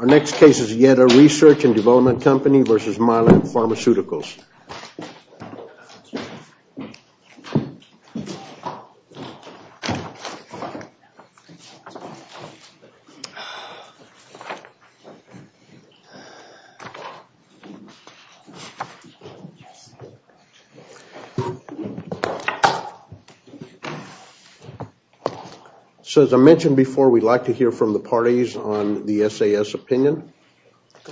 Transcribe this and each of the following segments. Our next case is Yeda Research and Development Company versus Mylan Pharmaceuticals. So as I mentioned before, we'd like to hear from the parties on the SAS opinion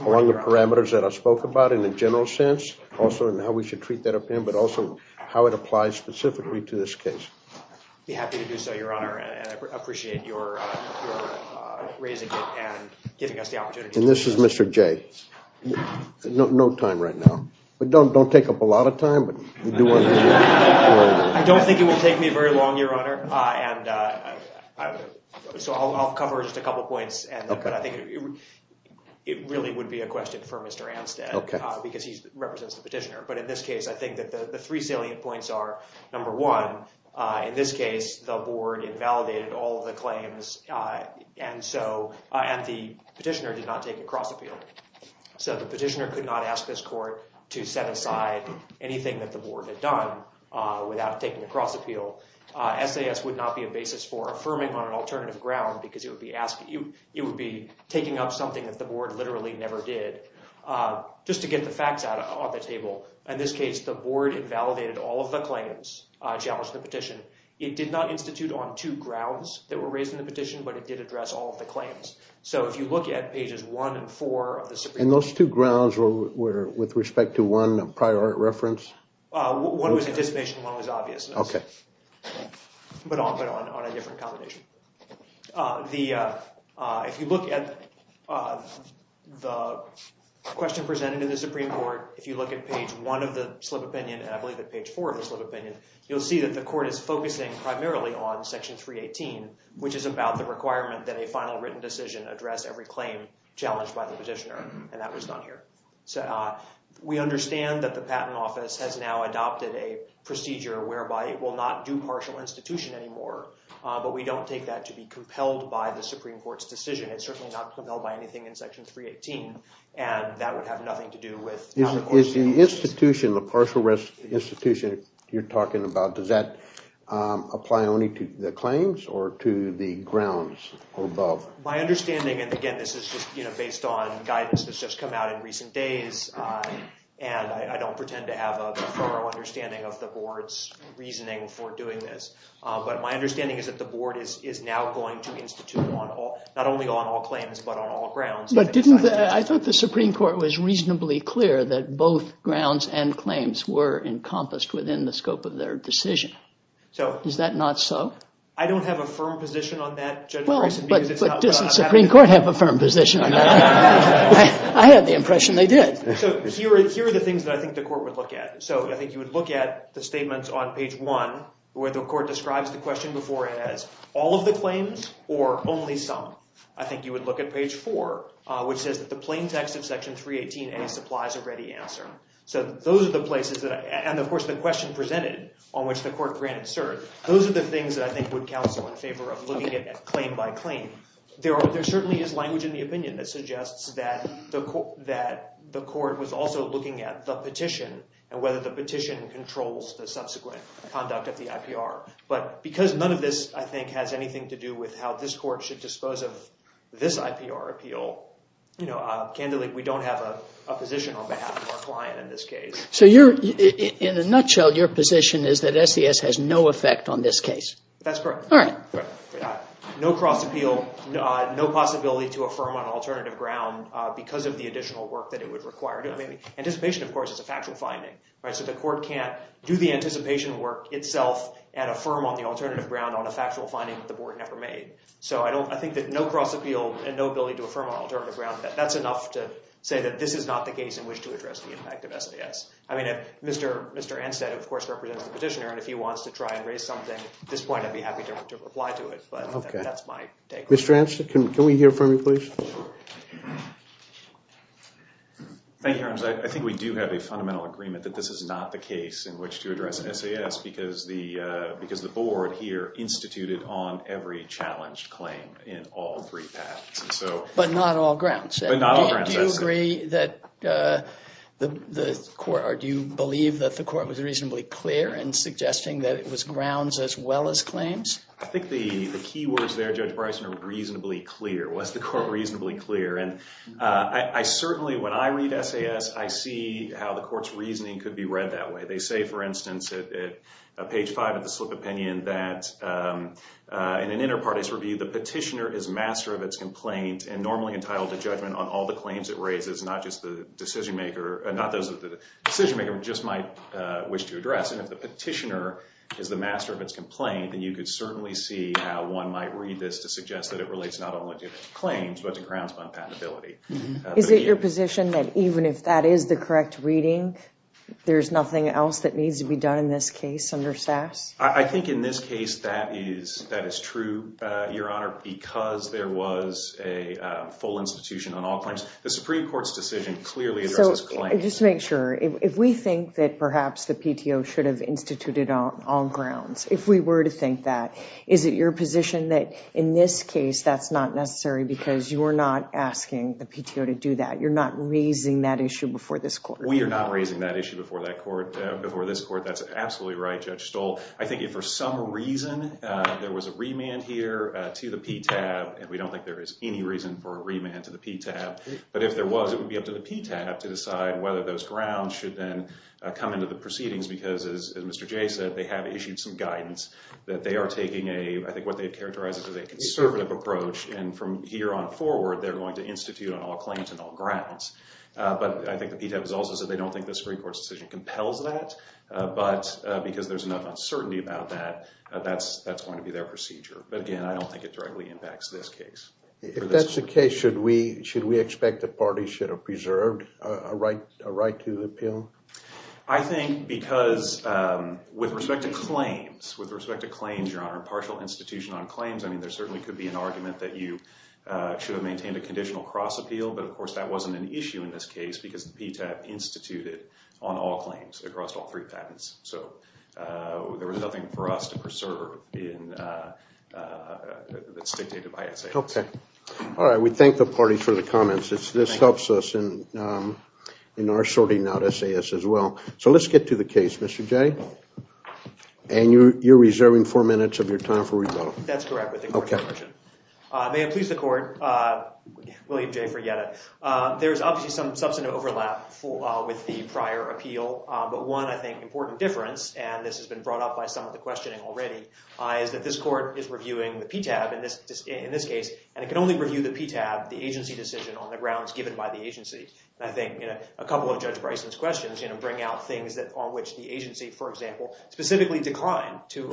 on the parameters that I spoke about in a general sense, also on how we should treat that opinion, but also how it applies specifically to this case. I'd be happy to do so, Your Honor, and I appreciate your raising it and giving us the opportunity. And this is Mr. J. No time right now, but don't take up a lot of time. I don't think it will take me very long, Your Honor. And so I'll cover just a couple of points. And I think it really would be a question for Mr. Anstead, because he represents the petitioner. But in this case, I think that the three salient points are, number one, in this case, the board invalidated all the claims. And the petitioner did not take a cross appeal. So the petitioner could not ask this court to set aside anything that the board had done without taking a cross appeal. SAS would not be a basis for affirming on an alternative ground, because it would be taking up something that the board literally never did. Just to get the facts out on the table, in this case, the board invalidated all of the claims challenged in the petition. It did not institute on two grounds that were raised in the petition, but it did address all of the claims. So if you look at pages one and four of the Supreme Court... And those two grounds were with respect to one prior reference? One was anticipation, one was obviousness, but on a different combination. If you look at the question presented in the Supreme Court, if you look at page one of the Slip Opinion, and I believe at page four of the Slip Opinion, you'll see that the court is focusing primarily on Section 318, which is about the requirement that a final written decision address every claim challenged by the petitioner. And that was done here. We understand that the Patent Office has now adopted a procedure whereby it will not do partial institution anymore, but we don't take that to be compelled by the Supreme Court's decision. It's certainly not compelled by anything in Section 318, and that would have nothing to do with... Is the institution, the partial risk institution you're talking about, does that apply only to the claims or to the grounds above? My understanding, and again, this is just based on guidance that's just come out in recent days, and I don't pretend to have a thorough understanding of the Board's reasoning for doing this, but my understanding is that the Board is now going to institute not only on all claims, but on all grounds. I thought the Supreme Court was reasonably clear that both grounds and claims were encompassed within the scope of their decision. Is that not so? I don't have a firm position on that. Well, but doesn't the Supreme Court have a firm position on that? I had the impression they did. So here are the things that I think the Court would look at. So I think you would look at the statements on page 1 where the Court describes the question before it as all of the claims or only some. I think you would look at page 4, which says that the plain text of Section 318A supplies a ready answer. So those are the places that I... And, of course, the question presented on which the Court granted cert. Those are the things that I think would counsel in favor of looking at claim by claim. There certainly is language in the opinion that suggests that the Court was also looking at the petition and whether the petition controls the subsequent conduct of the IPR. But because none of this, I think, has anything to do with how this Court should dispose of this IPR appeal, candidly, we don't have a position on behalf of our client in this case. So in a nutshell, your position is that SES has no effect on this case? That's correct. All right. No cross-appeal, no possibility to affirm on alternative ground because of the additional work that it would require. Anticipation, of course, is a factual finding. So the Court can't do the anticipation work itself and affirm on the alternative ground on a factual finding that the Board never made. So I think that no cross-appeal and no ability to affirm on alternative ground, that's enough to say that this is not the case in which to address the impact of SES. I mean, Mr. Anstead, of course, represents the petitioner, and if he wants to try and raise something at this point, I'd be happy to reply to it, but that's my take. Mr. Anstead, can we hear from you, please? Thank you, Your Honor. I think we do have a fundamental agreement that this is not the case in which to address SES because the Board here instituted on every challenged claim in all three patents. But not all grounds. But not all grounds. Do you agree that the Court, or do you believe that the Court was reasonably clear in suggesting that it was grounds as well as claims? I think the key words there, Judge Bryson, are reasonably clear. Was the Court reasonably clear? And I certainly, when I read SES, I see how the Court's reasoning could be read that way. They say, for instance, at page 5 of the slip opinion, that in an inter-parties review, the petitioner is master of its complaint and normally entitled to judgment on all the claims it raises, not those that the decision-maker just might wish to address. And if the petitioner is the master of its complaint, then you could certainly see how one might read this to suggest that it relates not only to the claims but to grounds on patentability. Is it your position that even if that is the correct reading, there's nothing else that needs to be done in this case under SAS? I think in this case that is true, Your Honor, because there was a full institution on all claims. The Supreme Court's decision clearly addresses claims. Just to make sure, if we think that perhaps the PTO should have instituted on grounds, if we were to think that, is it your position that in this case that's not necessary because you are not asking the PTO to do that? You're not raising that issue before this court? We are not raising that issue before this court. That's absolutely right, Judge Stoll. I think if for some reason there was a remand here to the PTAB, and we don't think there is any reason for a remand to the PTAB, but if there was, it would be up to the PTAB to decide whether those grounds should then come into the proceedings because, as Mr. Jay said, they have issued some guidance that they are taking a, I think what they characterize as a conservative approach, and from here on forward, they're going to institute on all claims and all grounds. But I think the PTAB has also said they don't think the Supreme Court's decision compels that, but because there's enough uncertainty about that, that's going to be their procedure. But again, I don't think it directly impacts this case. If that's the case, should we expect the parties should have preserved a right to appeal? I think because with respect to claims, with respect to claims, Your Honor, partial institution on claims, I mean, there certainly could be an argument that you should have maintained a conditional cross-appeal, but of course that wasn't an issue in this case because the PTAB instituted on all claims across all three patents. So there was nothing for us to preserve that's dictated by S.A.S. All right, we thank the parties for the comments. This helps us in our sorting out S.A.S. as well. So let's get to the case, Mr. Jay. And you're reserving four minutes of your time for rebuttal. That's correct. May it please the Court, William J. Ferrieta. There's obviously some substantive overlap with the prior appeal, but one, I think, important difference, and this has been brought up by some of the questioning already, is that this Court is reviewing the PTAB in this case, and it can only review the PTAB, the agency decision on the grounds given by the agency. And I think a couple of Judge Bryson's questions bring out things on which the agency, for example, specifically declined to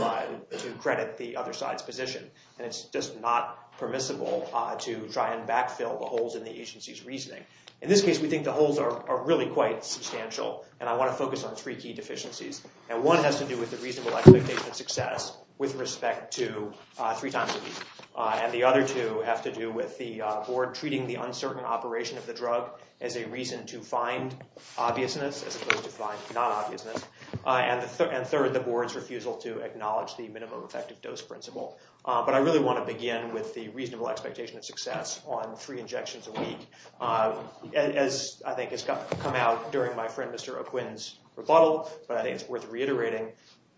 credit the other side's position. And it's just not permissible to try and backfill the holes in the agency's reasoning. In this case, we think the holes are really quite substantial, and I want to focus on three key deficiencies. And one has to do with the reasonable expectation of success with respect to three times a week. And the other two have to do with the Board treating the uncertain operation of the drug as a reason to find obviousness, as opposed to find non-obviousness. And third, the Board's refusal to acknowledge the minimum effective dose principle. But I really want to begin with the reasonable expectation of success on three injections a week. As I think has come out during my friend Mr. O'Quinn's rebuttal, but I think it's worth reiterating,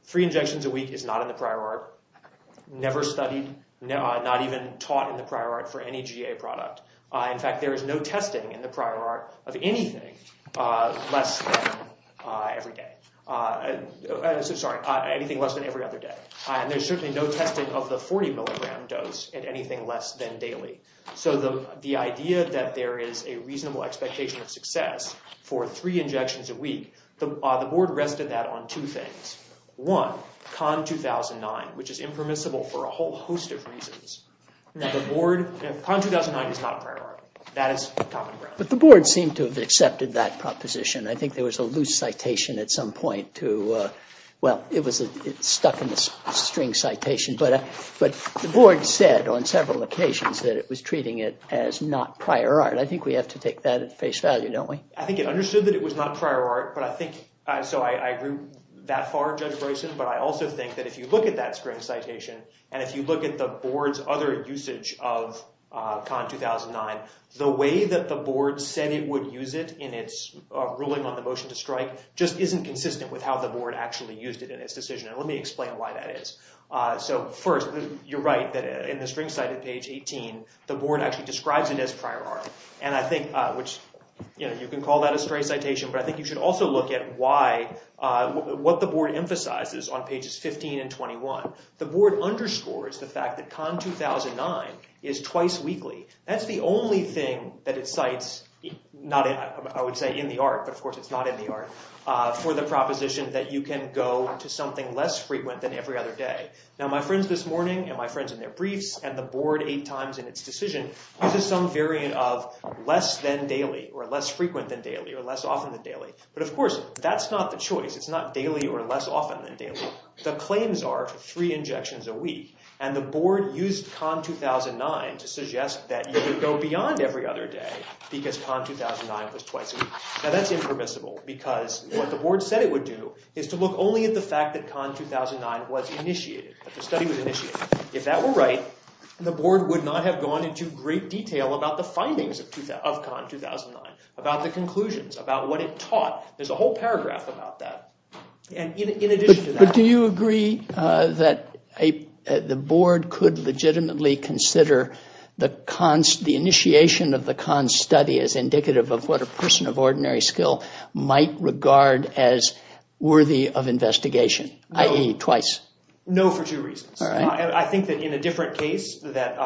three injections a week is not in the prior art, never studied, not even taught in the prior art for any GA product. In fact, there is no testing in the prior art of anything less than every other day. And there's certainly no testing of the 40 milligram dose in anything less than daily. So the idea that there is a reasonable expectation of success for three injections a week, the Board rested that on two things. One, CON 2009, which is impermissible for a whole host of reasons. CON 2009 is not a prior art. That is common ground. But the Board seemed to have accepted that proposition. I think there was a loose citation at some point to, well, it was stuck in the string citation. But the Board said on several occasions that it was treating it as not prior art. I think we have to take that at face value, don't we? I think it understood that it was not prior art. But I think, so I agree that far, Judge Bryson. But I also think that if you look at that string citation, and if you look at the Board's other usage of CON 2009, the way that the Board said it would use it in its ruling on the motion to strike just isn't consistent with how the Board actually used it in its decision. And let me explain why that is. So first, you're right that in the string cited page 18, the Board actually describes it as prior art. And I think, which, you know, you can call that a stray citation. But I think you should also look at why, what the Board emphasizes on pages 15 and 21. The Board underscores the fact that CON 2009 is twice weekly. That's the only thing that it cites, not in, I would say in the art, but of course it's not in the art, for the proposition that you can go to something less frequent than every other day. Now, my friends this morning, and my friends in their briefs, and the Board eight times in its decision, uses some variant of less than daily, or less frequent than daily, or less often than daily. But of course, that's not the choice. It's not daily or less often than daily. The claims are for three injections a week. And the Board used CON 2009 to suggest that you could go beyond every other day because CON 2009 was twice a week. Now, that's impermissible because what the Board said it would do is to look only at the fact that CON 2009 was initiated, that the study was initiated. If that were right, the Board would not have gone into great detail about the findings of CON 2009, about the conclusions, about what it taught. There's a whole paragraph about that. And in addition to that... The Board could legitimately consider the initiation of the CON study as indicative of what a person of ordinary skill might regard as worthy of investigation, i.e. twice. No, for two reasons. I think that in a different case, that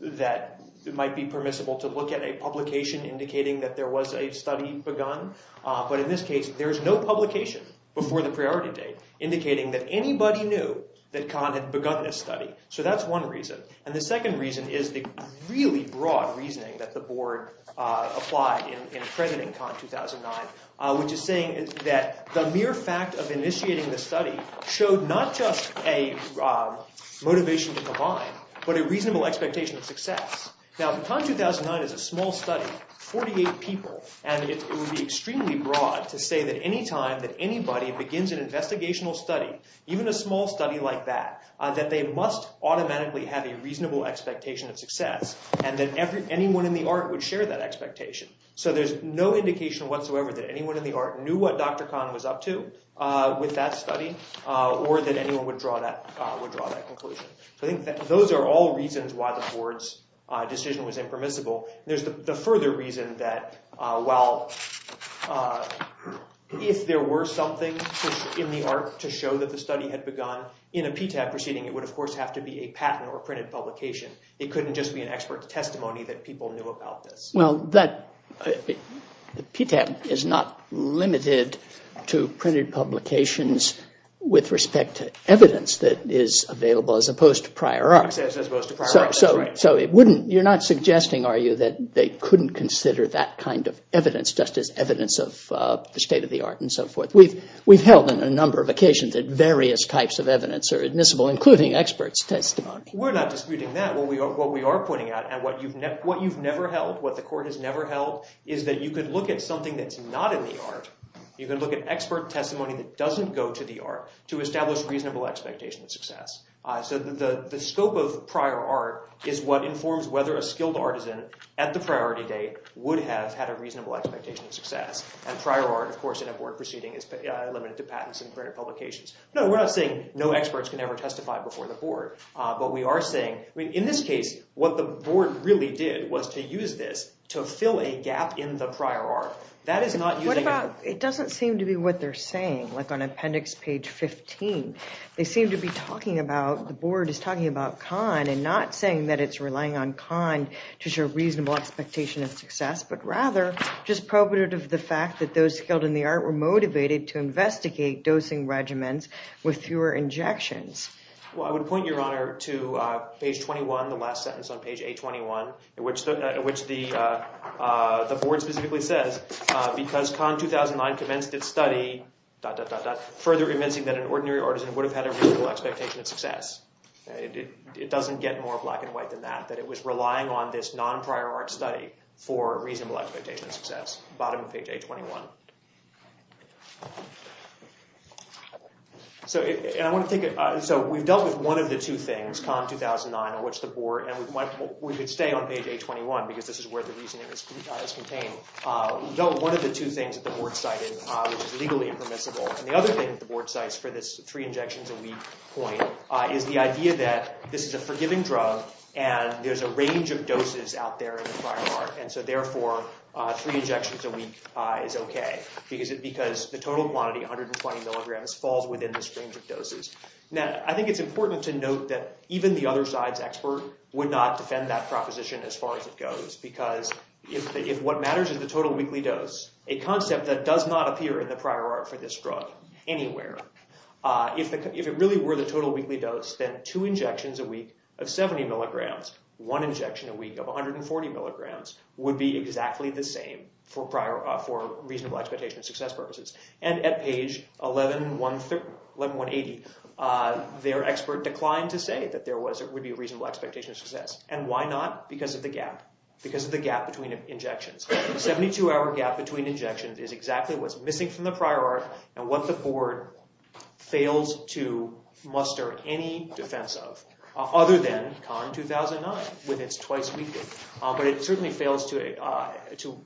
it might be permissible to look at a publication indicating that there was a study begun. But in this case, there's no publication before the priority date indicating that anybody knew that CON had begun this study. So that's one reason. And the second reason is the really broad reasoning that the Board applied in accrediting CON 2009, which is saying that the mere fact of initiating the study showed not just a motivation to combine, but a reasonable expectation of success. Now, CON 2009 is a small study, 48 people, and it would be extremely broad to say that any time that anybody begins an investigational study, even a small study like that, that they must automatically have a reasonable expectation of success, and that anyone in the art would share that expectation. So there's no indication whatsoever that anyone in the art knew what Dr. Con was up to with that study, or that anyone would draw that conclusion. So I think that those are all reasons why the Board's decision was impermissible. There's the further reason that, well, if there were something in the art to show that the study had begun, in a PTAP proceeding, it would, of course, have to be a patent or a printed publication. It couldn't just be an expert testimony that people knew about this. Well, PTAP is not limited to printed publications with respect to evidence that is available, as opposed to prior art. As opposed to prior art, that's right. So you're not suggesting, are you, that they couldn't consider that kind of evidence just as evidence of the state of the art and so forth? We've held on a number of occasions that various types of evidence are admissible, including experts' testimony. We're not disputing that. What we are pointing out, and what you've never held, what the Court has never held, is that you could look at something that's not in the art, you can look at expert testimony that doesn't go to the art, to establish reasonable expectation of success. So the scope of prior art is what informs whether a skilled artisan, at the priority date, would have had a reasonable expectation of success. And prior art, of course, in a Board proceeding, is limited to patents and printed publications. No, we're not saying no experts can ever testify before the Board. But we are saying, in this case, what the Board really did was to use this to fill a gap in the prior art. That is not using it. What about, it doesn't seem to be what they're saying. Like on appendix page 15, they seem to be talking about, the Board is talking about Kahn, and not saying that it's relying on Kahn to show reasonable expectation of success, but rather just probative of the fact that those skilled in the art were motivated to investigate dosing regimens with fewer injections. Well, I would point, Your Honor, to page 21, the last sentence on page 821, in which the Board specifically says, because Kahn 2009 commenced its study, dot, dot, dot, dot, further convincing that an ordinary artisan would have had a reasonable expectation of success. It doesn't get more black and white than that. That it was relying on this non-prior art study for reasonable expectation of success. Bottom of page 821. So we've dealt with one of the two things, Kahn 2009, and what's the Board, and we could stay on page 821, because this is where the reasoning is contained. We've dealt with one of the two things that the Board cited, which is legally impermissible. And the other thing that the Board cites for this three injections a week point, is the idea that this is a forgiving drug, and there's a range of doses out there in the prior art. And so therefore, three injections a week is OK. Because the total quantity, 120 milligrams, falls within this range of doses. Now, I think it's important to note that even the other side's expert would not defend that proposition as far as it goes. Because if what matters is the total weekly dose, a concept that does not appear in the prior art for this drug anywhere, if it really were the total weekly dose, then two injections a week of 70 milligrams, one injection a week of 140 milligrams, would be exactly the same for reasonable expectation of success purposes. And at page 11180, their expert declined to say that there would be a reasonable expectation of success. And why not? Because of the gap. Because of the gap between injections. A 72-hour gap between injections is exactly what's missing from the prior art, and what the board fails to muster any defense of, other than CON 2009, when it's twice weekly. But it certainly fails to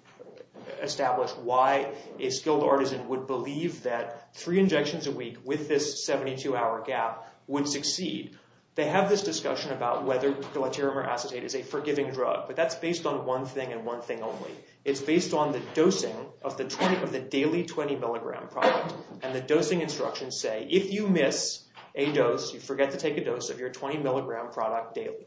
establish why a skilled artisan would believe that three injections a week with this 72-hour gap would succeed. They have this discussion about whether gilaterum or acetate is a forgiving drug, but that's based on one thing and one thing only. It's based on the dosing of the daily 20-milligram product, and the dosing instructions say, if you miss a dose, you forget to take a dose of your 20-milligram product daily,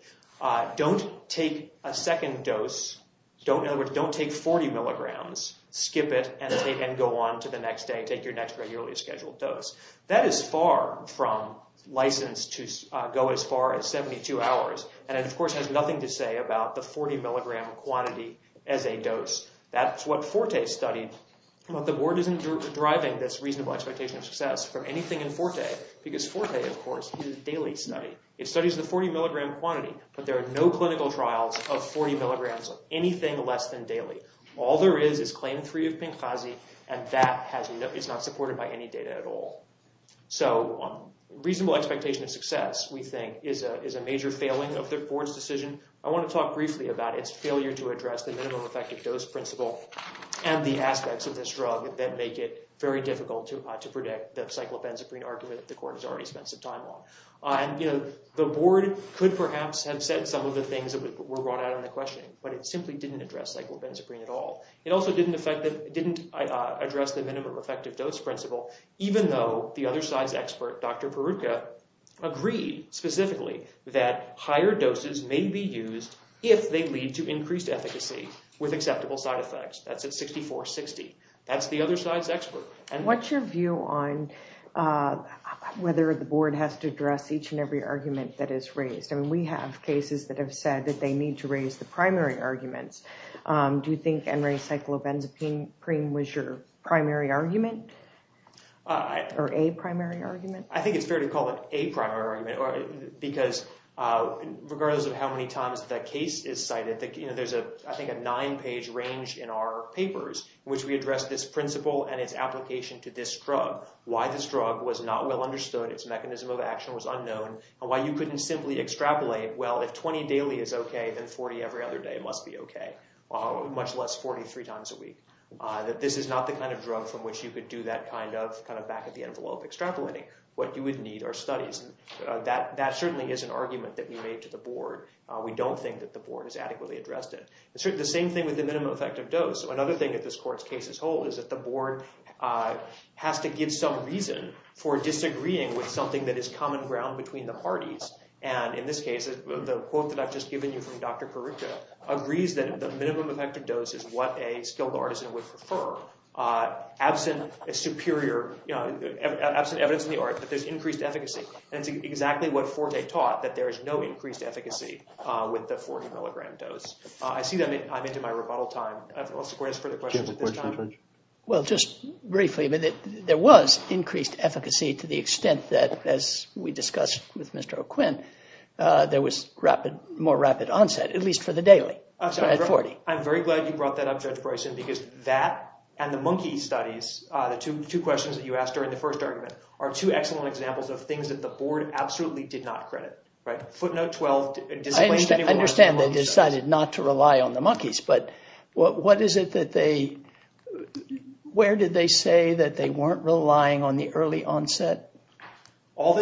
don't take a second dose, in other words, don't take 40 milligrams, skip it, and go on to the next day, take your next regularly scheduled dose. That is far from licensed to go as far as 72 hours, and of course has nothing to say about the 40-milligram quantity as a dose. That's what Forte studied, but the board isn't driving this reasonable expectation of success from anything in Forte, because Forte, of course, is a daily study. It studies the 40-milligram quantity, but there are no clinical trials of 40 milligrams of anything less than daily. All there is is claim three of Pinkhazy, and that is not supported by any data at all. So reasonable expectation of success, we think, is a major failing of the board's decision. I want to talk briefly about its failure to address the minimum effective dose principle and the aspects of this drug that make it very difficult to predict the cyclopenzaprine argument that the court has already spent some time on. The board could perhaps have said some of the things that were brought out in the questioning, but it simply didn't address cyclopenzaprine at all. It also didn't address the minimum effective dose principle, even though the other side's expert, Dr. Peruca, agreed specifically that higher doses may be used if they lead to increased efficacy with acceptable side effects. That's at 64-60. That's the other side's expert. What's your view on whether the board has to address each and every argument that is raised? I mean, we have cases that have said that they need to raise the primary arguments. Do you think N-ray cyclopenzaprine was your primary argument or a primary argument? I think it's fair to call it a primary argument because regardless of how many times that case is cited, there's, I think, a nine-page range in our papers in which we address this principle and its application to this drug, why this drug was not well understood, its mechanism of action was unknown, and why you couldn't simply extrapolate, well, if 20 daily is OK, then 40 every other day must be OK, much less 43 times a week, that this is not the kind of drug from which you could do that kind of back-of-the-envelope extrapolating. What you would need are studies. That certainly is an argument that we made to the board. We don't think that the board has adequately addressed it. The same thing with the minimum effective dose. Another thing that this court's case is whole is that the board has to give some reason for disagreeing with something that is common ground between the parties. And in this case, the quote that I've just given you from Dr. Karuka agrees that the minimum effective dose is what a skilled artisan would prefer, absent evidence in the art that there's increased efficacy. And it's exactly what Forte taught, that there is no increased efficacy with the 40-milligram dose. I see that I'm into my rebuttal time. Do you have a question, Judge? Well, just briefly, there was increased efficacy to the extent that, as we discussed with Mr. O'Quinn, there was more rapid onset, at least for the daily, at 40. I'm very glad you brought that up, Judge Bryson, because that and the monkey studies, the two questions that you asked during the first argument, are two excellent examples of things that the board absolutely did not credit. I understand they decided not to rely on the monkeys, but where did they say that they weren't relying on the early onset or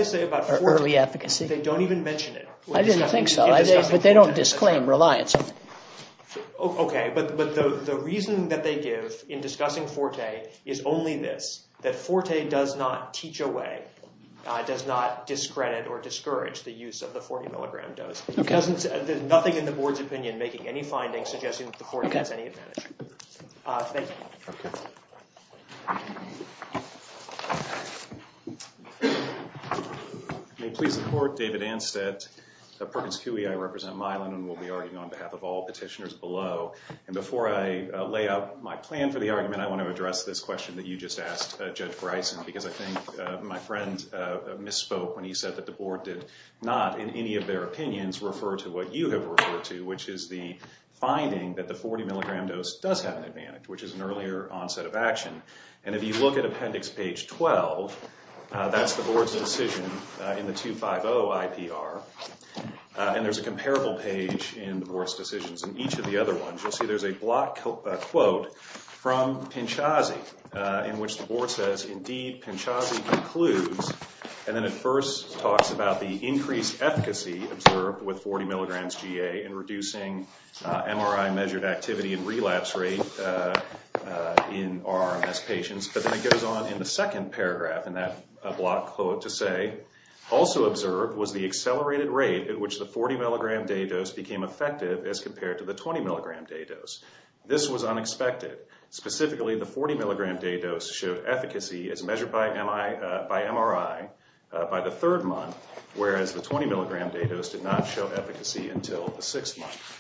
early efficacy? They don't even mention it. I didn't think so, but they don't disclaim reliance on it. Okay, but the reason that they give in discussing Forte is only this, that Forte does not teach away, does not discredit or discourage the use of the 40-milligram dose. There's nothing in the board's opinion making any findings suggesting that the 40 has any advantage. Thank you. May it please the Court, David Anstett, Perkins Coie, I represent Milan, and will be arguing on behalf of all petitioners below. And before I lay out my plan for the argument, I want to address this question that you just asked, Judge Bryson, because I think my friend misspoke when he said that the board did not, in any of their opinions, refer to what you have referred to, which is the finding that the 40-milligram dose does have an advantage, which is an earlier onset of action. And if you look at Appendix Page 12, that's the board's decision in the 250 IPR, and there's a comparable page in the board's decisions. In each of the other ones, you'll see there's a block quote from Pinchasi, in which the board says, Indeed, Pinchasi concludes, and then it first talks about the increased efficacy observed with 40-milligrams GA in reducing MRI-measured activity and relapse rate in RRMS patients. But then it goes on in the second paragraph in that block quote to say, Also observed was the accelerated rate at which the 40-milligram day dose became effective as compared to the 20-milligram day dose. This was unexpected. Specifically, the 40-milligram day dose showed efficacy as measured by MRI by the third month, whereas the 20-milligram day dose did not show efficacy until the sixth month.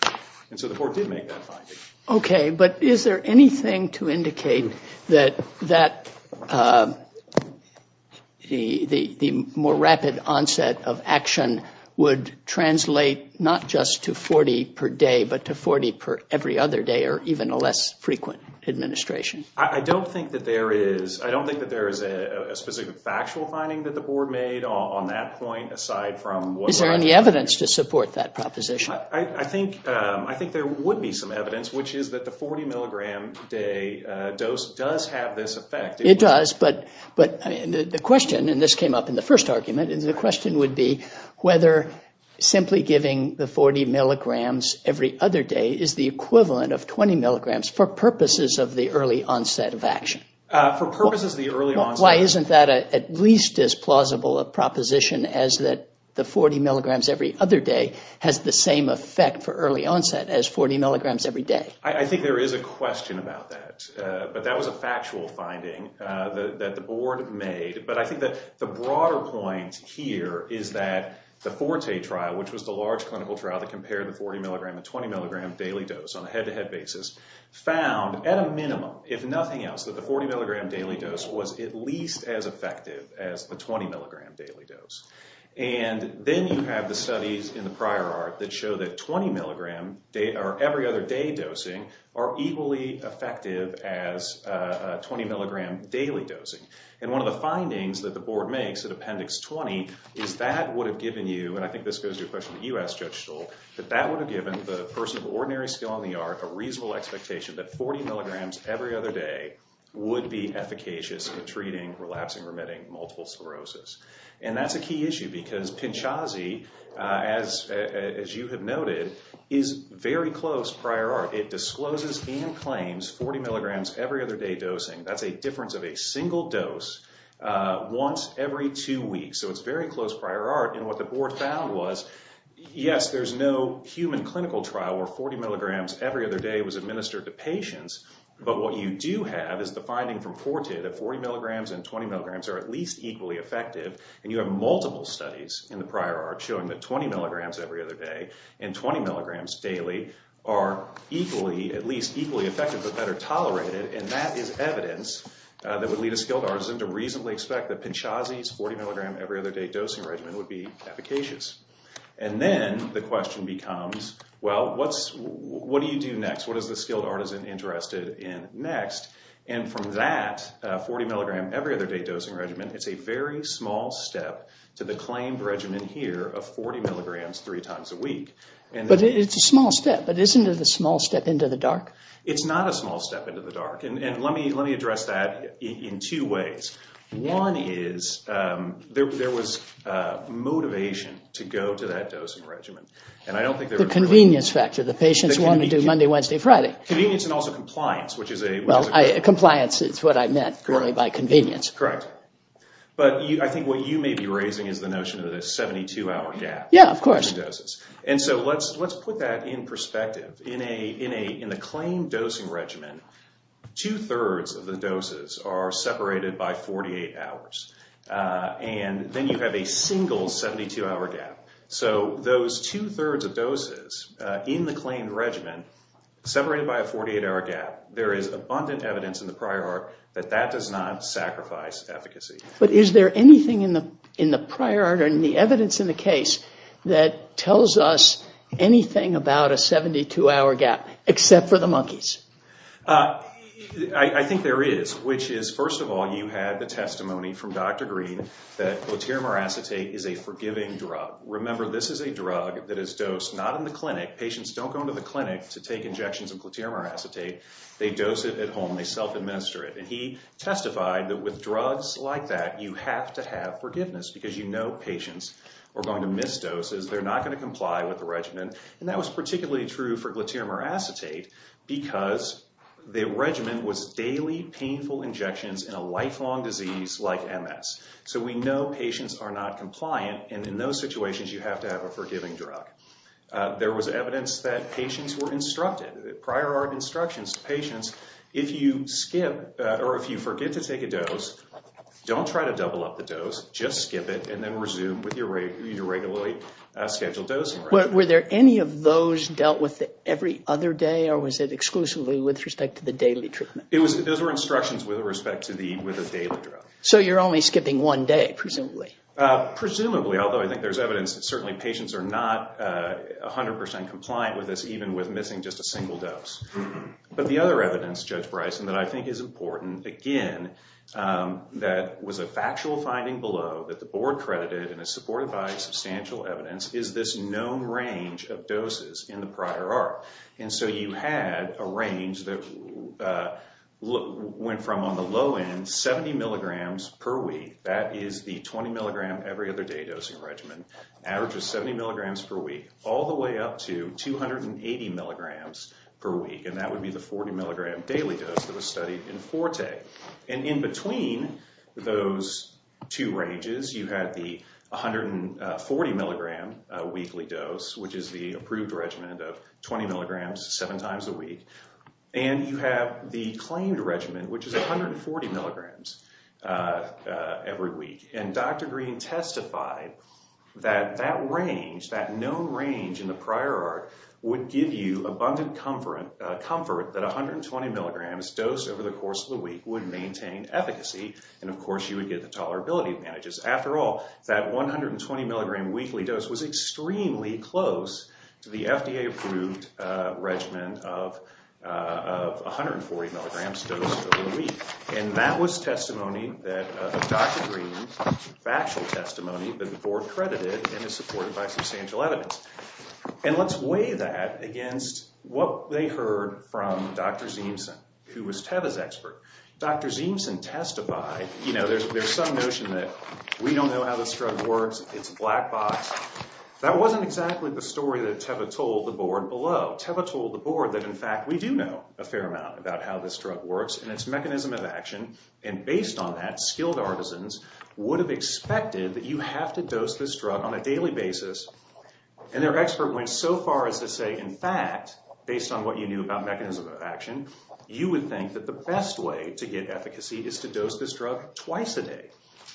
And so the board did make that finding. Okay, but is there anything to indicate that the more rapid onset of action would translate not just to 40 per day, but to 40 per every other day, or even a less frequent administration? I don't think that there is a specific factual finding that the board made on that point, aside from what we're identifying. Is there any evidence to support that proposition? I think there would be some evidence, which is that the 40-milligram day dose does have this effect. It does, but the question, and this came up in the first argument, the question would be whether simply giving the 40 milligrams every other day is the equivalent of 20 milligrams for purposes of the early onset of action. For purposes of the early onset. Why isn't that at least as plausible a proposition as that the 40 milligrams every other day has the same effect for early onset as 40 milligrams every day? I think there is a question about that, but that was a factual finding that the board made. But I think that the broader point here is that the FORTE trial, which was the large clinical trial that compared the 40-milligram and 20-milligram daily dose on a head-to-head basis, found at a minimum, if nothing else, that the 40-milligram daily dose was at least as effective as the 20-milligram daily dose. And then you have the studies in the prior art that show that 20-milligram, or every other day dosing, are equally effective as 20-milligram daily dosing. And one of the findings that the board makes at Appendix 20 is that would have given you, and I think this goes to a question you asked, Judge Stoll, that that would have given the person of ordinary skill in the art a reasonable expectation that 40 milligrams every other day would be efficacious in treating relapsing-remitting multiple sclerosis. And that's a key issue because PINCHASI, as you have noted, is very close prior art. It discloses and claims 40 milligrams every other day dosing. That's a difference of a single dose once every two weeks. So it's very close prior art. And what the board found was, yes, there's no human clinical trial where 40 milligrams every other day was administered to patients, but what you do have is the finding from FORTE that 40 milligrams and 20 milligrams are at least equally effective, and you have multiple studies in the prior art showing that 20 milligrams every other day and 20 milligrams daily are equally, at least equally effective but better tolerated, and that is evidence that would lead a skilled artisan to reasonably expect that PINCHASI's 40-milligram every other day dosing regimen would be efficacious. And then the question becomes, well, what do you do next? What is the skilled artisan interested in next? And from that 40-milligram every other day dosing regimen, it's a very small step to the claimed regimen here of 40 milligrams three times a week. But it's a small step, but isn't it a small step into the dark? It's not a small step into the dark. And let me address that in two ways. One is there was motivation to go to that dosing regimen. Convenience and also compliance, which is a question. Compliance is what I meant really by convenience. Correct. But I think what you may be raising is the notion of the 72-hour gap. Yeah, of course. And so let's put that in perspective. In a claimed dosing regimen, two-thirds of the doses are separated by 48 hours, and then you have a single 72-hour gap. So those two-thirds of doses in the claimed regimen separated by a 48-hour gap, there is abundant evidence in the prior art that that does not sacrifice efficacy. But is there anything in the prior art or in the evidence in the case that tells us anything about a 72-hour gap except for the monkeys? I think there is, which is, first of all, you had the testimony from Dr. Green that glutaramuracetate is a forgiving drug. Remember, this is a drug that is dosed not in the clinic. Patients don't go into the clinic to take injections of glutaramuracetate. They dose it at home. They self-administer it. And he testified that with drugs like that, you have to have forgiveness because you know patients are going to miss doses. They're not going to comply with the regimen. And that was particularly true for glutaramuracetate because the regimen was daily painful injections in a lifelong disease like MS. So we know patients are not compliant, and in those situations, you have to have a forgiving drug. There was evidence that patients were instructed. Prior art instructions to patients, if you skip or if you forget to take a dose, don't try to double up the dose. Just skip it and then resume with your regularly scheduled dosing regimen. Were there any of those dealt with every other day, or was it exclusively with respect to the daily treatment? Those were instructions with respect to the daily drug. So you're only skipping one day, presumably. Presumably, although I think there's evidence that certainly patients are not 100% compliant with this, even with missing just a single dose. But the other evidence, Judge Bryson, that I think is important, again, that was a factual finding below that the board credited and is supported by substantial evidence, is this known range of doses in the prior art. And so you had a range that went from, on the low end, 70 milligrams per week. That is the 20-milligram every-other-day dosing regimen, average of 70 milligrams per week, all the way up to 280 milligrams per week, and that would be the 40-milligram daily dose that was studied in Forte. And in between those two ranges, you had the 140-milligram weekly dose, which is the approved regimen of 20 milligrams seven times a week, and you have the claimed regimen, which is 140 milligrams every week. And Dr. Green testified that that range, that known range in the prior art, would give you abundant comfort that 120 milligrams dosed over the course of the week would maintain efficacy, and, of course, you would get the tolerability advantages. After all, that 120-milligram weekly dose was extremely close to the FDA-approved regimen of 140 milligrams dosed over the week. And that was testimony of Dr. Green's factual testimony that the board credited and is supported by substantial evidence. And let's weigh that against what they heard from Dr. Ziemsen, who was Teva's expert. Dr. Ziemsen testified, you know, there's some notion that we don't know how this drug works, it's a black box. That wasn't exactly the story that Teva told the board below. Teva told the board that, in fact, we do know a fair amount about how this drug works and its mechanism of action, and based on that, skilled artisans would have expected that you have to dose this drug on a daily basis. And their expert went so far as to say, in fact, based on what you knew about mechanism of action, you would think that the best way to get efficacy is to dose this drug twice a day.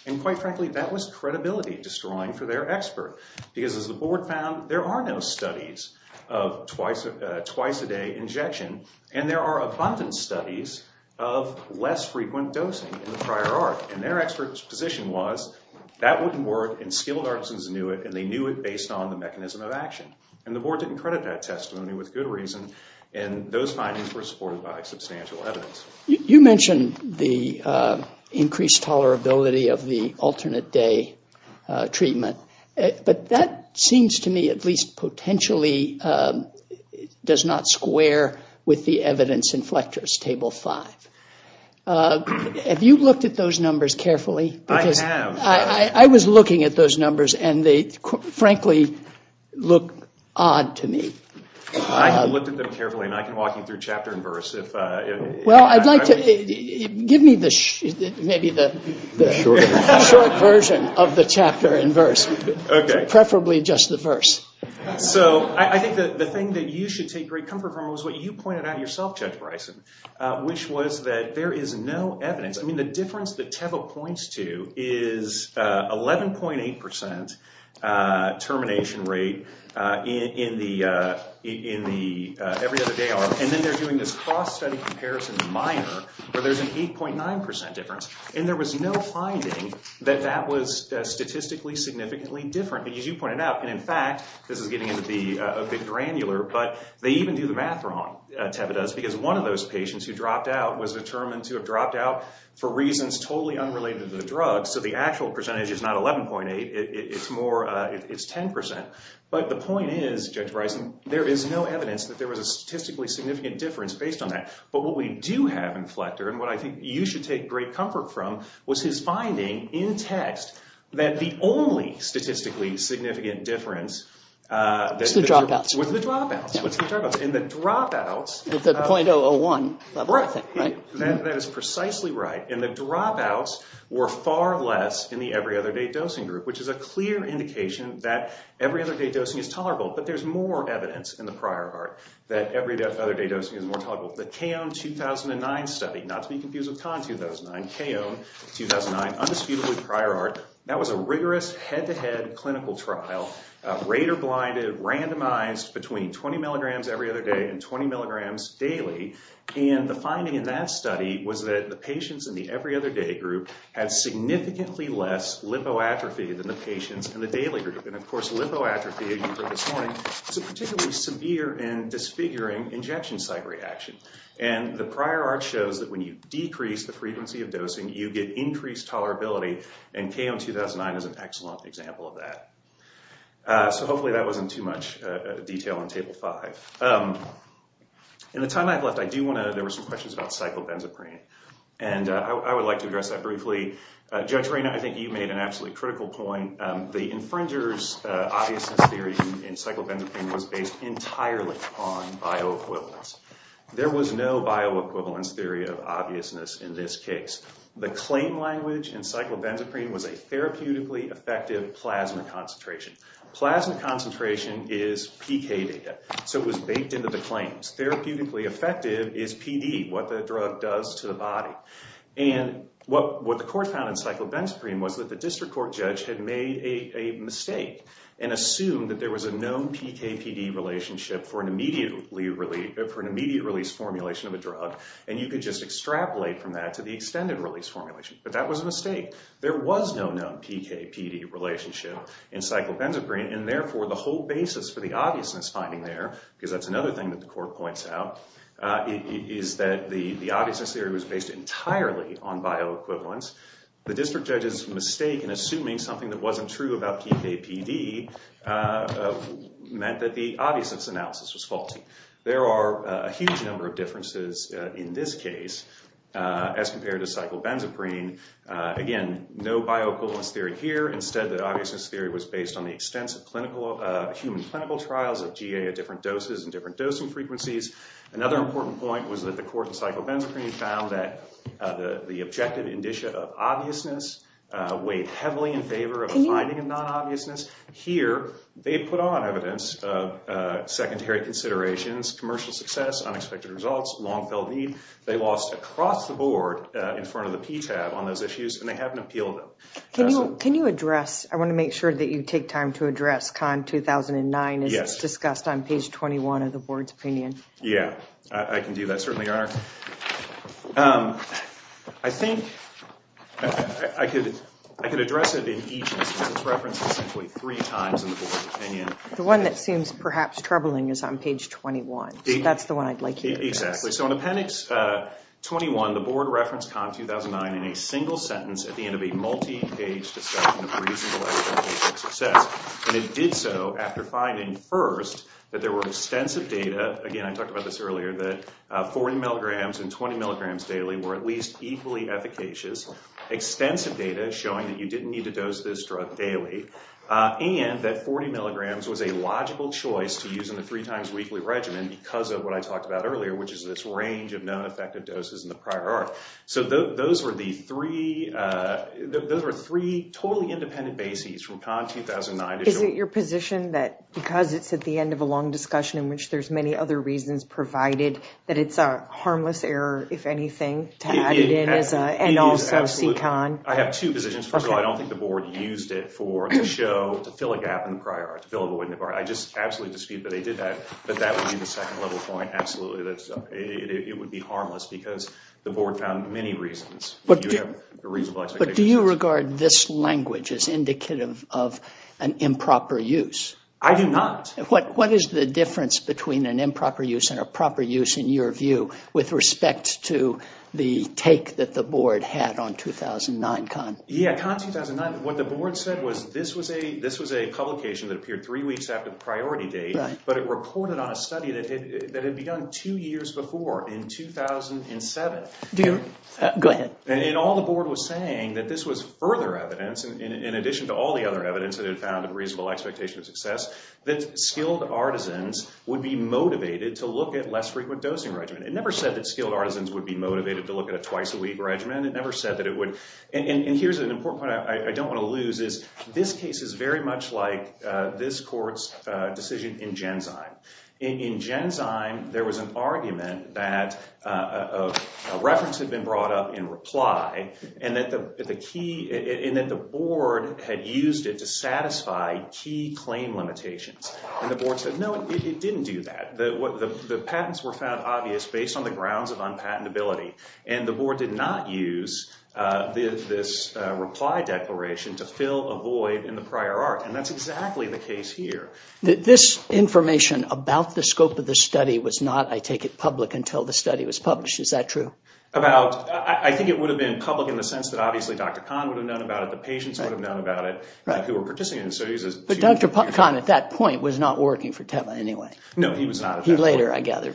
And quite frankly, that was credibility-destroying for their expert, because as the board found, there are no studies of twice-a-day injection, and there are abundant studies of less frequent dosing in the prior art. And their expert's position was that wouldn't work, and skilled artisans knew it, and they knew it based on the mechanism of action. And the board didn't credit that testimony with good reason, and those findings were supported by substantial evidence. You mentioned the increased tolerability of the alternate-day treatment, but that seems to me at least potentially does not square with the evidence in Fletcher's Table 5. Have you looked at those numbers carefully? I have. I was looking at those numbers, and they frankly look odd to me. I have looked at them carefully, and I can walk you through chapter and verse. Well, I'd like to. Give me maybe the short version of the chapter and verse, preferably just the verse. So I think the thing that you should take great comfort from is what you pointed out yourself, Judge Bryson, which was that there is no evidence. I mean, the difference that Teva points to is 11.8 percent termination rate every other day, and then they're doing this cross-study comparison minor where there's an 8.9 percent difference, and there was no finding that that was statistically significantly different. But as you pointed out, and in fact, this is getting a bit granular, but they even do the math wrong, Teva does, because one of those patients who dropped out was determined to have dropped out for reasons totally unrelated to the drug, so the actual percentage is not 11.8. It's 10 percent. But the point is, Judge Bryson, there is no evidence that there was a statistically significant difference based on that. But what we do have in Fletcher, and what I think you should take great comfort from, was his finding in text that the only statistically significant difference was the dropouts. It's the dropouts. It's the dropouts. And the dropouts. It's at the .001 level, I think, right? That is precisely right. And the dropouts were far less in the every-other-day dosing group, which is a clear indication that every-other-day dosing is tolerable, but there's more evidence in the prior part that every-other-day dosing is more tolerable. So the CAON 2009 study, not to be confused with CON 2009, CAON 2009, Undisputably Prior Art, that was a rigorous, head-to-head clinical trial, radar-blinded, randomized between 20 milligrams every other day and 20 milligrams daily. And the finding in that study was that the patients in the every-other-day group had significantly less lipoatrophy than the patients in the daily group. And, of course, lipoatrophy, as you heard this morning, is a particularly severe and disfiguring injection site reaction. And the prior art shows that when you decrease the frequency of dosing, you get increased tolerability, and CAON 2009 is an excellent example of that. So hopefully that wasn't too much detail on Table 5. In the time I have left, I do want to know, there were some questions about cyclobenzaprine, and I would like to address that briefly. Judge Reina, I think you made an absolutely critical point. The infringer's obviousness theory in cyclobenzaprine was based entirely on bioequivalence. There was no bioequivalence theory of obviousness in this case. The claim language in cyclobenzaprine was a therapeutically effective plasma concentration. Plasma concentration is PK data, so it was baked into the claims. Therapeutically effective is PD, what the drug does to the body. And what the court found in cyclobenzaprine was that the district court judge had made a mistake and assumed that there was a known PK-PD relationship for an immediate release formulation of a drug, and you could just extrapolate from that to the extended release formulation. But that was a mistake. There was no known PK-PD relationship in cyclobenzaprine, and therefore the whole basis for the obviousness finding there, because that's another thing that the court points out, is that the obviousness theory was based entirely on bioequivalence. The district judge's mistake in assuming something that wasn't true about PK-PD meant that the obviousness analysis was faulty. There are a huge number of differences in this case as compared to cyclobenzaprine. Again, no bioequivalence theory here. Instead, the obviousness theory was based on the extensive human clinical trials of GA at different doses and different dosing frequencies. Another important point was that the court in cyclobenzaprine found that the objective indicia of obviousness weighed heavily in favor of a finding of non-obviousness. Here, they put on evidence of secondary considerations, commercial success, unexpected results, long-felt need. They lost across the board in front of the PTAB on those issues, and they haven't appealed them. Can you address—I want to make sure that you take time to address CON 2009 as it's discussed on page 21 of the board's opinion. Yeah, I can do that, certainly, Your Honor. I think I could address it in each instance. It's referenced essentially three times in the board's opinion. The one that seems perhaps troubling is on page 21. That's the one I'd like you to address. Exactly. Okay, so in appendix 21, the board referenced CON 2009 in a single sentence at the end of a multi-page discussion of reasonable expectations of success. And it did so after finding, first, that there were extensive data— again, I talked about this earlier—that 40 milligrams and 20 milligrams daily were at least equally efficacious, extensive data showing that you didn't need to dose this drug daily, and that 40 milligrams was a logical choice to use in the three-times weekly regimen because of what I talked about earlier, which is this range of non-effective doses in the prior arc. So those were the three totally independent bases from CON 2009. Is it your position that because it's at the end of a long discussion in which there's many other reasons provided that it's a harmless error, if anything, to add it in and also see CON? Absolutely. I have two positions. First of all, I don't think the board used it to fill a gap in the prior arc, to fill a void in the prior arc. I just absolutely dispute that they did that, but that would be the second-level point, absolutely. It would be harmless because the board found many reasons. But do you regard this language as indicative of an improper use? I do not. What is the difference between an improper use and a proper use, in your view, with respect to the take that the board had on 2009 CON? Yeah, CON 2009. What the board said was this was a publication that appeared three weeks after the priority date, but it reported on a study that had begun two years before, in 2007. Go ahead. And all the board was saying that this was further evidence, in addition to all the other evidence that it found a reasonable expectation of success, that skilled artisans would be motivated to look at less frequent dosing regimen. It never said that skilled artisans would be motivated to look at a twice-a-week regimen. It never said that it would. And here's an important point I don't want to lose is this case is very much like this court's decision in Genzyme. In Genzyme, there was an argument that a reference had been brought up in reply and that the board had used it to satisfy key claim limitations. And the board said, no, it didn't do that. The patents were found obvious based on the grounds of unpatentability, and the board did not use this reply declaration to fill a void in the prior art, and that's exactly the case here. This information about the scope of the study was not, I take it, public until the study was published. Is that true? I think it would have been public in the sense that obviously Dr. Kahn would have known about it. The patients would have known about it who were participating. But Dr. Kahn at that point was not working for Teva anyway. No, he was not. He later, I gather.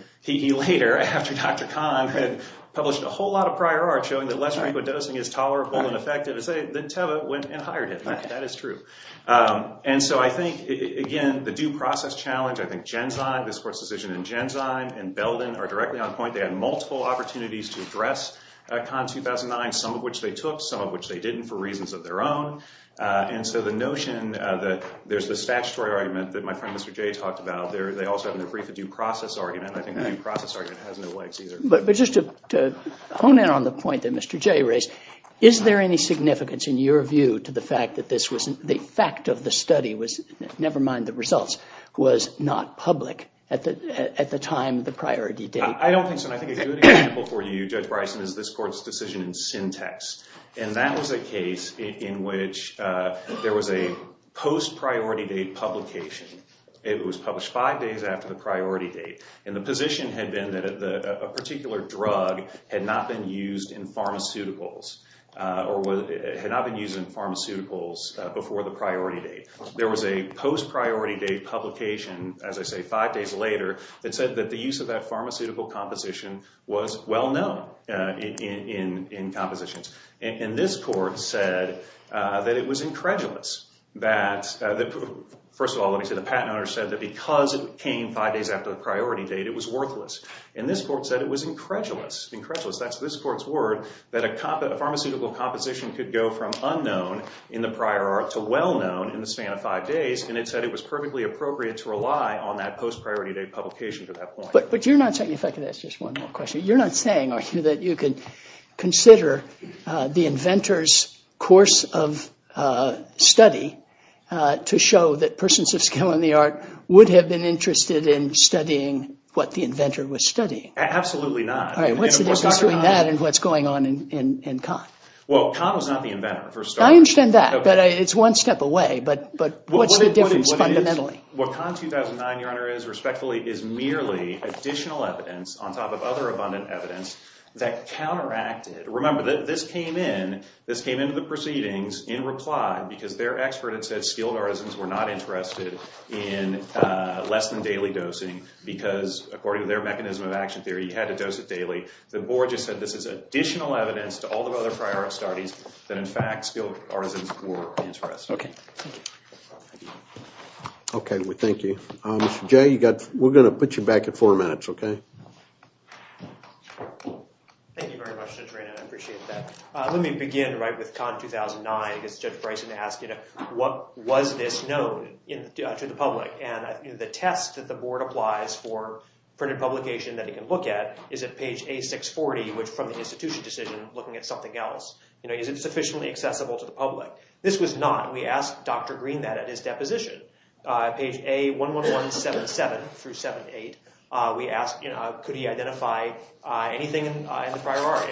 Published a whole lot of prior art showing that less frequent dosing is tolerable and effective. Then Teva went and hired him. That is true. And so I think, again, the due process challenge, I think Genzyme, this court's decision in Genzyme and Belden are directly on point. They had multiple opportunities to address Kahn 2009, some of which they took, some of which they didn't for reasons of their own. And so the notion that there's the statutory argument that my friend Mr. J talked about. They also have in their brief a due process argument. I think the due process argument has no legs either. But just to hone in on the point that Mr. J raised, is there any significance in your view to the fact that the fact of the study was, never mind the results, was not public at the time the priority date? I don't think so. And I think a good example for you, Judge Bryson, is this court's decision in Syntex. And that was a case in which there was a post-priority date publication. It was published five days after the priority date. And the position had been that a particular drug had not been used in pharmaceuticals or had not been used in pharmaceuticals before the priority date. There was a post-priority date publication, as I say, five days later, that said that the use of that pharmaceutical composition was well known in compositions. And this court said that it was incredulous that, first of all, the patent owner said that because it came five days after the priority date, it was worthless. And this court said it was incredulous, incredulous, that's this court's word, that a pharmaceutical composition could go from unknown in the prior arc to well known in the span of five days. And it said it was perfectly appropriate to rely on that post-priority date publication to that point. But you're not saying, if I could ask just one more question, you're not saying, are you, that you could consider the inventor's course of study to show that persons of skill in the art would have been interested in studying what the inventor was studying? Absolutely not. All right, what's the difference between that and what's going on in Kahn? Well, Kahn was not the inventor. I understand that, but it's one step away. But what's the difference fundamentally? What Kahn 2009, Your Honor, is, respectfully, is merely additional evidence on top of other abundant evidence that counteracted. Remember, this came in, this came into the proceedings in reply because their expert had said skilled artisans were not interested in less than daily dosing because, according to their mechanism of action theory, you had to dose it daily. The board just said this is additional evidence to all the other prior art studies that, in fact, skilled artisans were interested. Okay. Okay, we thank you. Mr. Jay, we're going to put you back at four minutes, okay? Thank you very much, Judge Raynon. I appreciate that. Let me begin with Kahn 2009. I guess Judge Bryson asked, you know, what was this known to the public? And the test that the board applies for printed publication that it can look at is at page A640, which from the institution decision, looking at something else, you know, is it sufficiently accessible to the public? This was not. We asked Dr. Green that at his deposition. Page A11177 through 78, we asked, you know, could he identify anything in the prior art,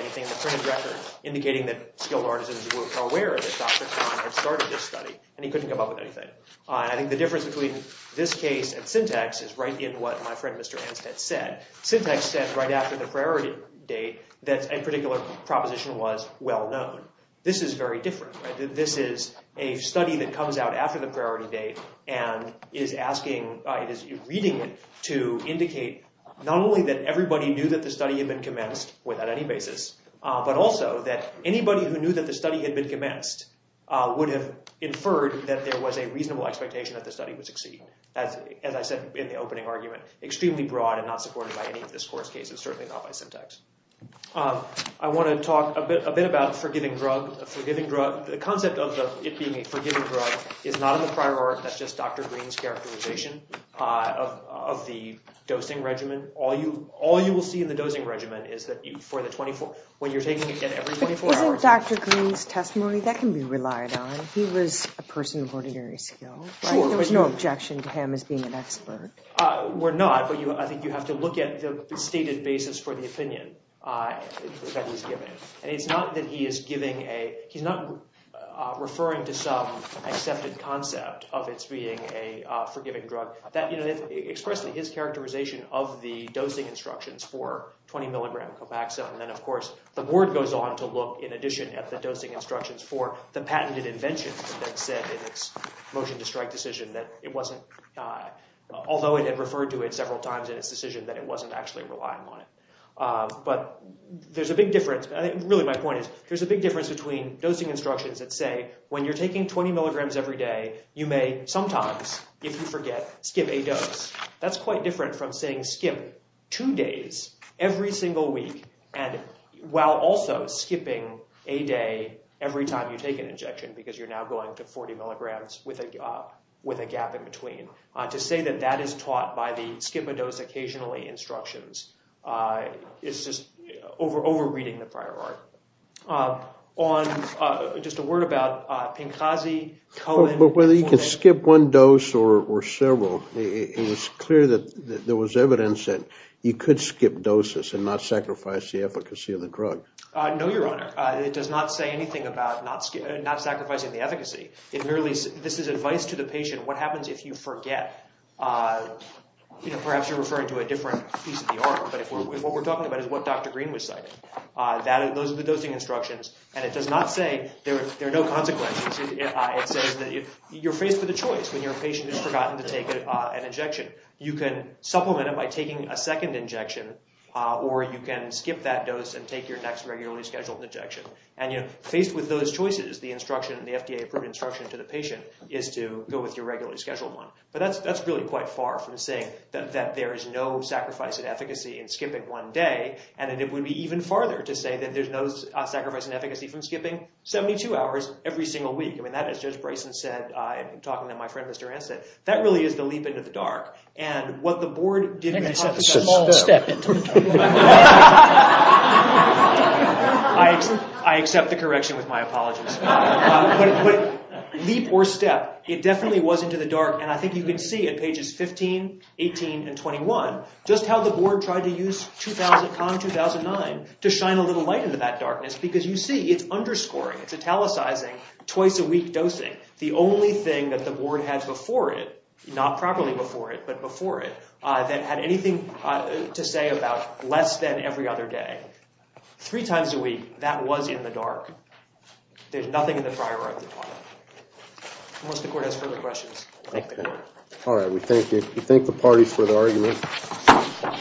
indicating that skilled artisans were aware that Dr. Kahn had started this study, and he couldn't come up with anything. I think the difference between this case and syntax is right in what my friend Mr. Anstett said. Syntax said right after the priority date that a particular proposition was well known. This is very different. This is a study that comes out after the priority date and is asking, is reading it to indicate not only that everybody knew that the study had been commenced without any basis, but also that anybody who knew that the study had been commenced would have inferred that there was a reasonable expectation that the study would succeed. As I said in the opening argument, extremely broad and not supported by any of this course cases, certainly not by syntax. I want to talk a bit about forgiving drug. The concept of it being a forgiving drug is not in the prior art. That's just Dr. Green's characterization of the dosing regimen. All you will see in the dosing regimen is that for the 24, when you're taking it every 24 hours. Isn't Dr. Green's testimony, that can be relied on. He was a person of ordinary skill. There was no objection to him as being an expert. We're not, but I think you have to look at the stated basis for the opinion that he's given. It's not that he is giving a, he's not referring to some accepted concept of it being a forgiving drug. Expressing his characterization of the dosing instructions for 20 mg Copaxone. Then of course the board goes on to look in addition at the dosing instructions for the patented invention that said in its motion to strike decision that it wasn't, although it had referred to it several times in its decision that it wasn't actually relying on it. But there's a big difference, really my point is, there's a big difference between dosing instructions that say when you're taking 20 mg every day, you may sometimes, if you forget, skip a dose. That's quite different from saying skip two days every single week, and while also skipping a day every time you take an injection, because you're now going to 40 mg with a gap in between. To say that that is taught by the skip a dose occasionally instructions is just over reading the prior art. On, just a word about Pinkazi, Cohen, But whether you can skip one dose or several, it was clear that there was evidence that you could skip doses and not sacrifice the efficacy of the drug. No, Your Honor, it does not say anything about not sacrificing the efficacy. It merely, this is advice to the patient, what happens if you forget? Perhaps you're referring to a different piece of the art, but what we're talking about is what Dr. Green was citing. Those are the dosing instructions, and it does not say there are no consequences. It says that you're faced with a choice when your patient has forgotten to take an injection. You can supplement it by taking a second injection, or you can skip that dose and take your next regularly scheduled injection. And faced with those choices, the FDA-approved instruction to the patient is to go with your regularly scheduled one. But that's really quite far from saying that there is no sacrifice in efficacy in skipping one day, and it would be even farther to say that there's no sacrifice in efficacy from skipping 72 hours every single week. I mean, that is, Judge Bryson said, and I'm talking to my friend, Mr. Rance, that that really is the leap into the dark. And what the board did— I think they said the small step into the dark. I accept the correction with my apologies. But leap or step, it definitely was into the dark, and I think you can see it, pages 15, 18, and 21, just how the board tried to use 2000-con-2009 to shine a little light into that darkness, because you see it's underscoring, it's italicizing, twice-a-week dosing. The only thing that the board had before it—not properly before it, but before it— that had anything to say about less than every other day. Three times a week, that was in the dark. There's nothing in the prior article on it. Unless the court has further questions. Thank you. All right, we thank the parties for the argument.